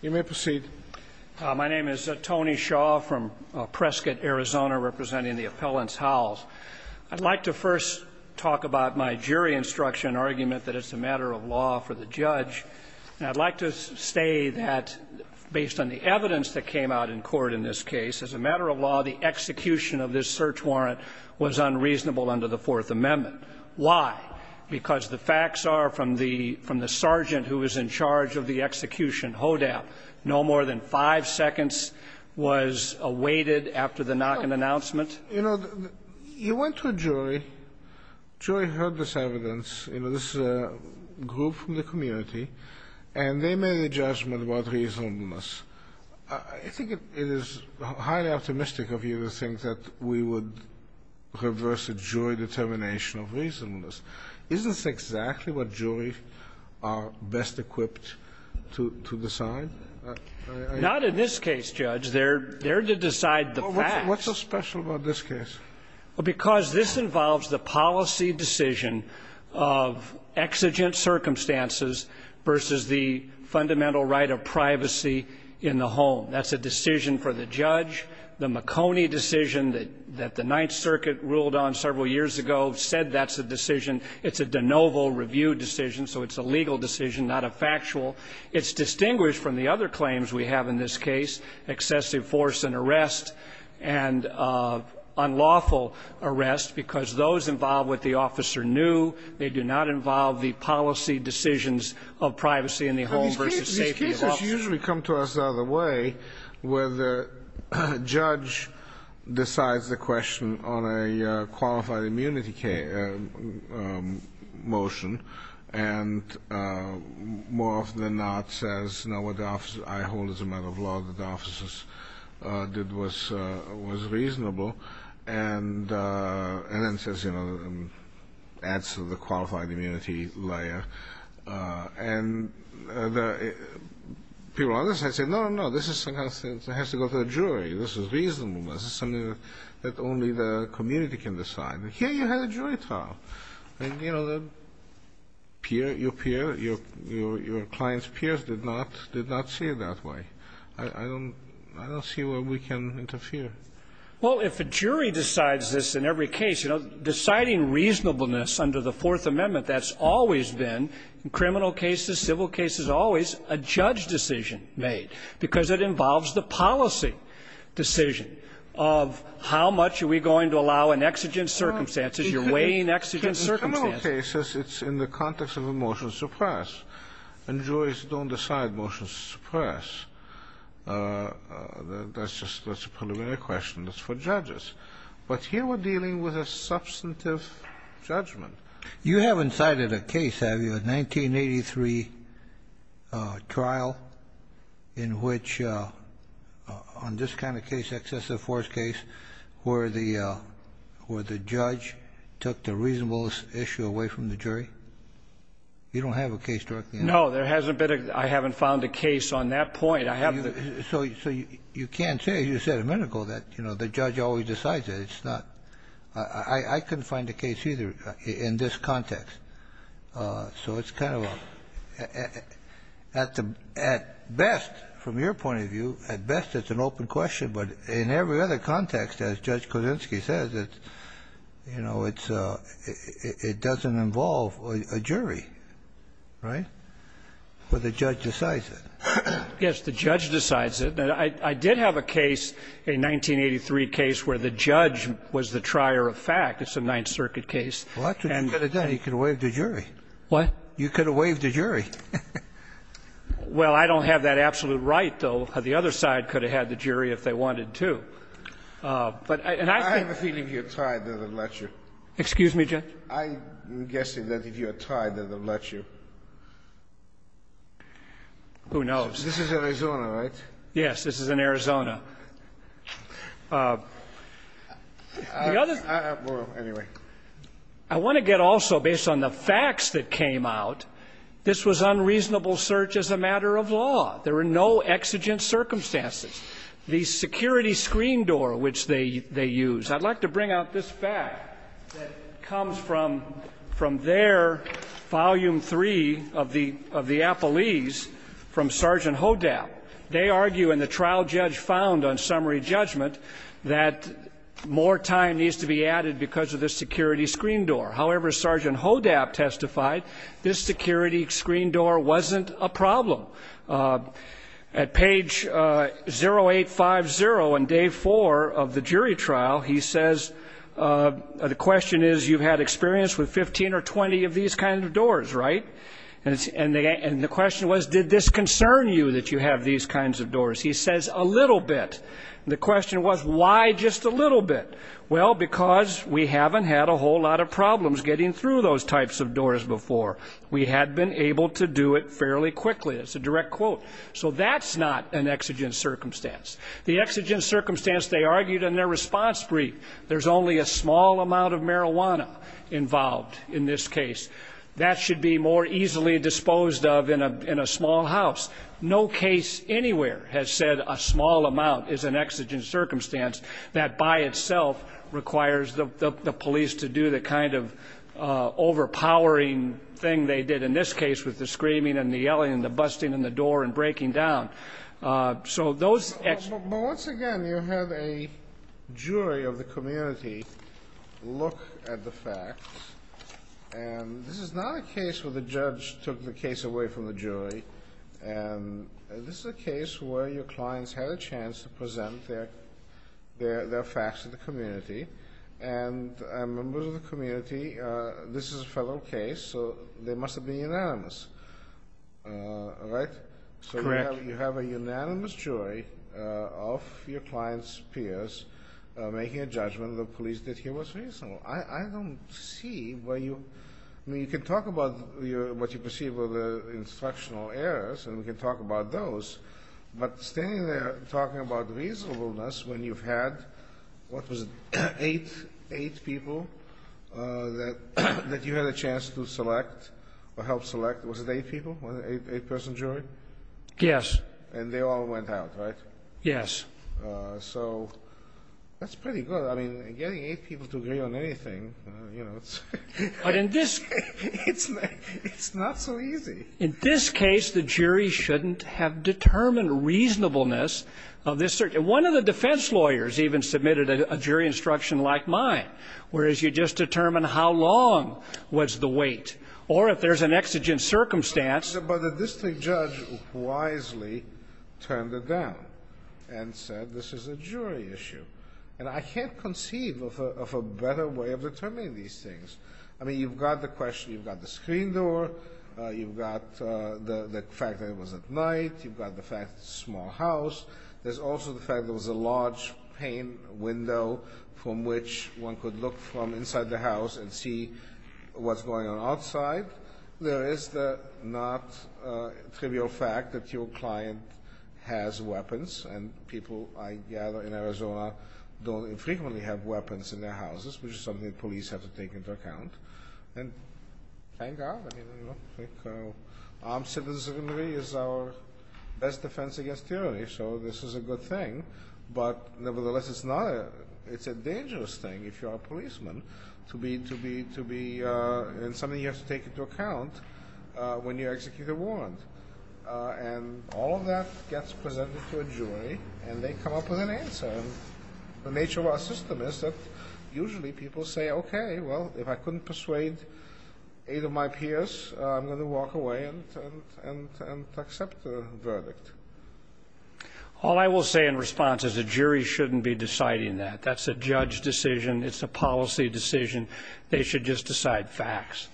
You may proceed. My name is Tony Shaw from Prescott, Arizona, representing the Appellants' House. I'd like to first talk about my jury instruction argument that it's a matter of law for the judge. I'd like to say that based on the evidence that came out in court in this case, as a matter of law, the execution of this search warrant was unreasonable under the Fourth Amendment. Why? Because the sergeant who was in charge of the execution, HODAP, no more than five seconds was awaited after the knock and announcement. You know, you went to a jury, jury heard this evidence, you know, this group from the community, and they made a judgment about reasonableness. I think it is highly optimistic of you to think that we would reverse a jury determination of reasonableness. That's exactly what juries are best equipped to decide. Not in this case, Judge. They're there to decide the facts. What's so special about this case? Because this involves the policy decision of exigent circumstances versus the fundamental right of privacy in the home. That's a decision for the judge. The McConey decision that the Ninth Circuit ruled on several years ago said that's a decision, it's a de novo review decision, so it's a legal decision, not a factual. It's distinguished from the other claims we have in this case, excessive force and arrest, and unlawful arrest, because those involve what the officer knew. They do not involve the policy decisions of privacy in the home versus safety in the office. These cases usually come to us the other way, where the judge decides the question on a qualified immunity motion, and more often than not says, no, what I hold as a matter of law that the officers did was reasonable, and then says, you know, adds to the qualified immunity layer. And people on the other side say, no, no, no, this has to go to the jury. This is reasonableness. It's something that only the community can decide. Here you have a jury trial. And, you know, the peer, your peer, your client's peers did not see it that way. I don't see where we can interfere. Well, if a jury decides this in every case, you know, deciding reasonableness under the Fourth Amendment, that's always been, in criminal cases, civil cases, always a judge decision made, because it involves the policy decision of how much are we going to allow in exigent circumstances. You're weighing exigent circumstances. In criminal cases, it's in the context of a motion to suppress. And juries don't decide motions to suppress. That's just a preliminary question. That's for judges. But here we're dealing with a substantive judgment. You haven't cited a case, have you, a 1983 trial in which, on this kind of case, excessive force case, where the judge took the reasonableness issue away from the jury? You don't have a case directly on that? No. There hasn't been a — I haven't found a case on that point. I have the — So you can't say, as you said a minute ago, that, you know, the judge always decides it. It's not — I couldn't find a case either in this context. So it's kind of a — at best, from your point of view, at best it's an open question. But in every other context, as Judge Kudzinski says, it's — you know, it's — it doesn't involve a jury, right? But the judge decides it. Yes. The judge decides it. I did have a case, a 1983 case, where the judge was the trier of fact. It's a Ninth Circuit case. Well, that's what you could have done. You could have waived the jury. What? You could have waived the jury. Well, I don't have that absolute right, though. The other side could have had the jury if they wanted to. But I — I have a feeling you're tired of the lecture. Excuse me, Judge? I'm guessing that if you're tired of the lecture. Who knows? This is Arizona, right? Yes. This is in Arizona. The other — Well, anyway. I want to get also, based on the facts that came out, this was unreasonable search as a matter of law. There were no exigent circumstances. The security screen door, which they used — I'd like to bring out this fact that comes from their volume three of the appellees from Sergeant Hodab. They argue, and the trial judge found on summary judgment, that more time needs to be added because of the security screen door. However, as Sergeant Hodab testified, this security screen door wasn't a problem. At page 0850 on day four of the jury trial, he says — the question is, you've had experience with 15 or 20 of these kinds of doors, right? And the question was, did this concern you that you have these kinds of doors? He says, a little bit. And the question was, why just a little bit? Well, because we haven't had a whole lot of problems getting through those types of doors before. We had been able to do it fairly quickly. It's a direct quote. So that's not an exigent circumstance. The exigent circumstance, they argued in their response brief, there's only a small amount of marijuana involved in this case. That should be more easily disposed of in a small house. No case anywhere has said a small amount is an exigent circumstance that by itself requires the police to do the kind of overpowering thing they did in this case with the screaming and the yelling and the busting in the door and breaking down. So those — But once again, you have a jury of the community look at the facts. And this is not a case where the judge took the case away from the jury. This is a case where your clients had a chance to present their facts to the community. And members of the community, this is a fellow case, so they must have been unanimous, right? Correct. So you have a unanimous jury of your clients' peers making a judgment that the police did not do anything that was reasonable. I don't see where you — I mean, you can talk about what you perceive were the instructional errors, and we can talk about those. But standing there talking about reasonableness when you've had, what was it, eight people that you had a chance to select or help select — was it eight people, an eight-person jury? Yes. And they all went out, right? Yes. So that's pretty good. I mean, getting eight people to agree on anything, you know — But in this — It's not so easy. In this case, the jury shouldn't have determined reasonableness of this — one of the defense lawyers even submitted a jury instruction like mine, whereas you just determine how long was the wait. Or if there's an exigent circumstance — But the district judge wisely turned it down and said, this is a jury issue. And I can't conceive of a better way of determining these things. I mean, you've got the question — you've got the screen door, you've got the fact that it was at night, you've got the fact that it's a small house. There's also the fact there was a large pane window from which one could look from inside the house and see what's going on outside. There is the not trivial fact that your client has weapons. And people, I gather, in Arizona don't infrequently have weapons in their houses, which is something the police have to take into account. And thank God. I mean, you know, I think armed citizenry is our best defense against tyranny. So this is a good thing. But nevertheless, it's a dangerous thing if you're a policeman to be in something you have to take into account when you execute a warrant. And all of that gets presented to a jury, and they come up with an answer. And the nature of our system is that usually people say, OK, well, if I couldn't persuade eight of my peers, I'm going to walk away and accept the verdict. All I will say in response is a jury shouldn't be deciding that. That's a judge decision. It's a policy decision. They should just decide facts.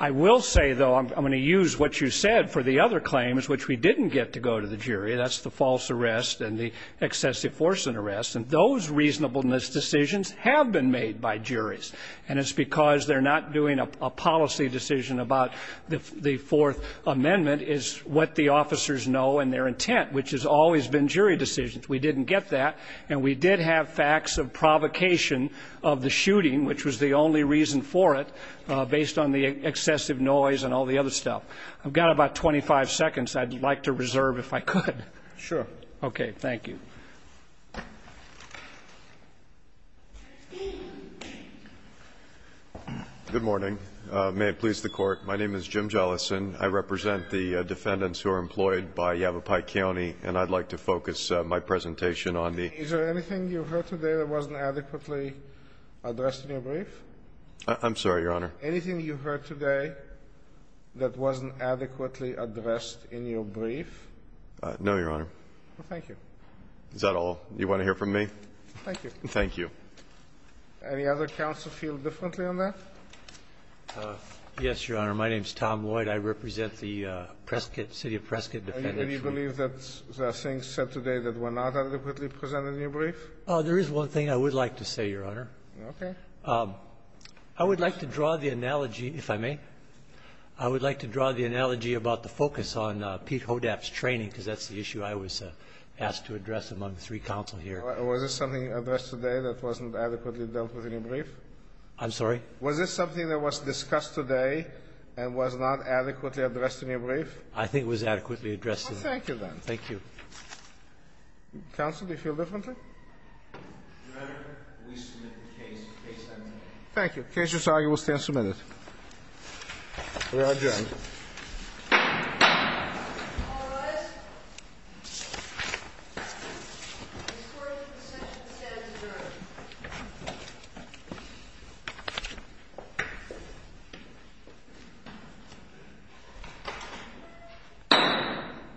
I will say, though, I'm going to use what you said for the other claims which we didn't get to go to the jury. That's the false arrest and the excessive force in arrest. And those reasonableness decisions have been made by juries. And it's because they're not doing a policy decision about the Fourth Amendment is what the officers know and their intent, which has always been jury decisions. We didn't get that. And we did have facts of provocation of the shooting, which was the only reason for it, based on the excessive noise and all the other stuff. I've got about 25 seconds I'd like to reserve if I could. Sure. OK. Thank you. Good morning. May it please the Court. My name is Jim Jellison. I represent the defendants who are employed by Yavapai County, and I'd like to focus my presentation on the Is there anything you heard today that wasn't adequately addressed in your brief? I'm sorry, Your Honor. Anything you heard today that wasn't adequately addressed in your brief? No, Your Honor. Well, thank you. Is that all you want to hear from me? Thank you. Thank you. Any other counsel feel differently on that? Yes, Your Honor. My name is Tom Lloyd. I represent the Prescott City of Prescott defendants. And do you believe that there are things said today that were not adequately presented in your brief? There is one thing I would like to say, Your Honor. OK. I would like to draw the analogy, if I may, I would like to draw the analogy about the focus on Pete Hodap's training, because that's the issue I was asked to address among the three counsel here. Was there something addressed today that wasn't adequately dealt with in your brief? I'm sorry? Was there something that was discussed today and was not adequately addressed in your brief? I think it was adequately addressed in my brief. Well, thank you, then. Thank you. Counsel, do you feel differently? Your Honor, we submit the case. Case submitted. Thank you. The case is argued. We'll stand submitted. We are adjourned. All rise. This court's procession stands adjourned.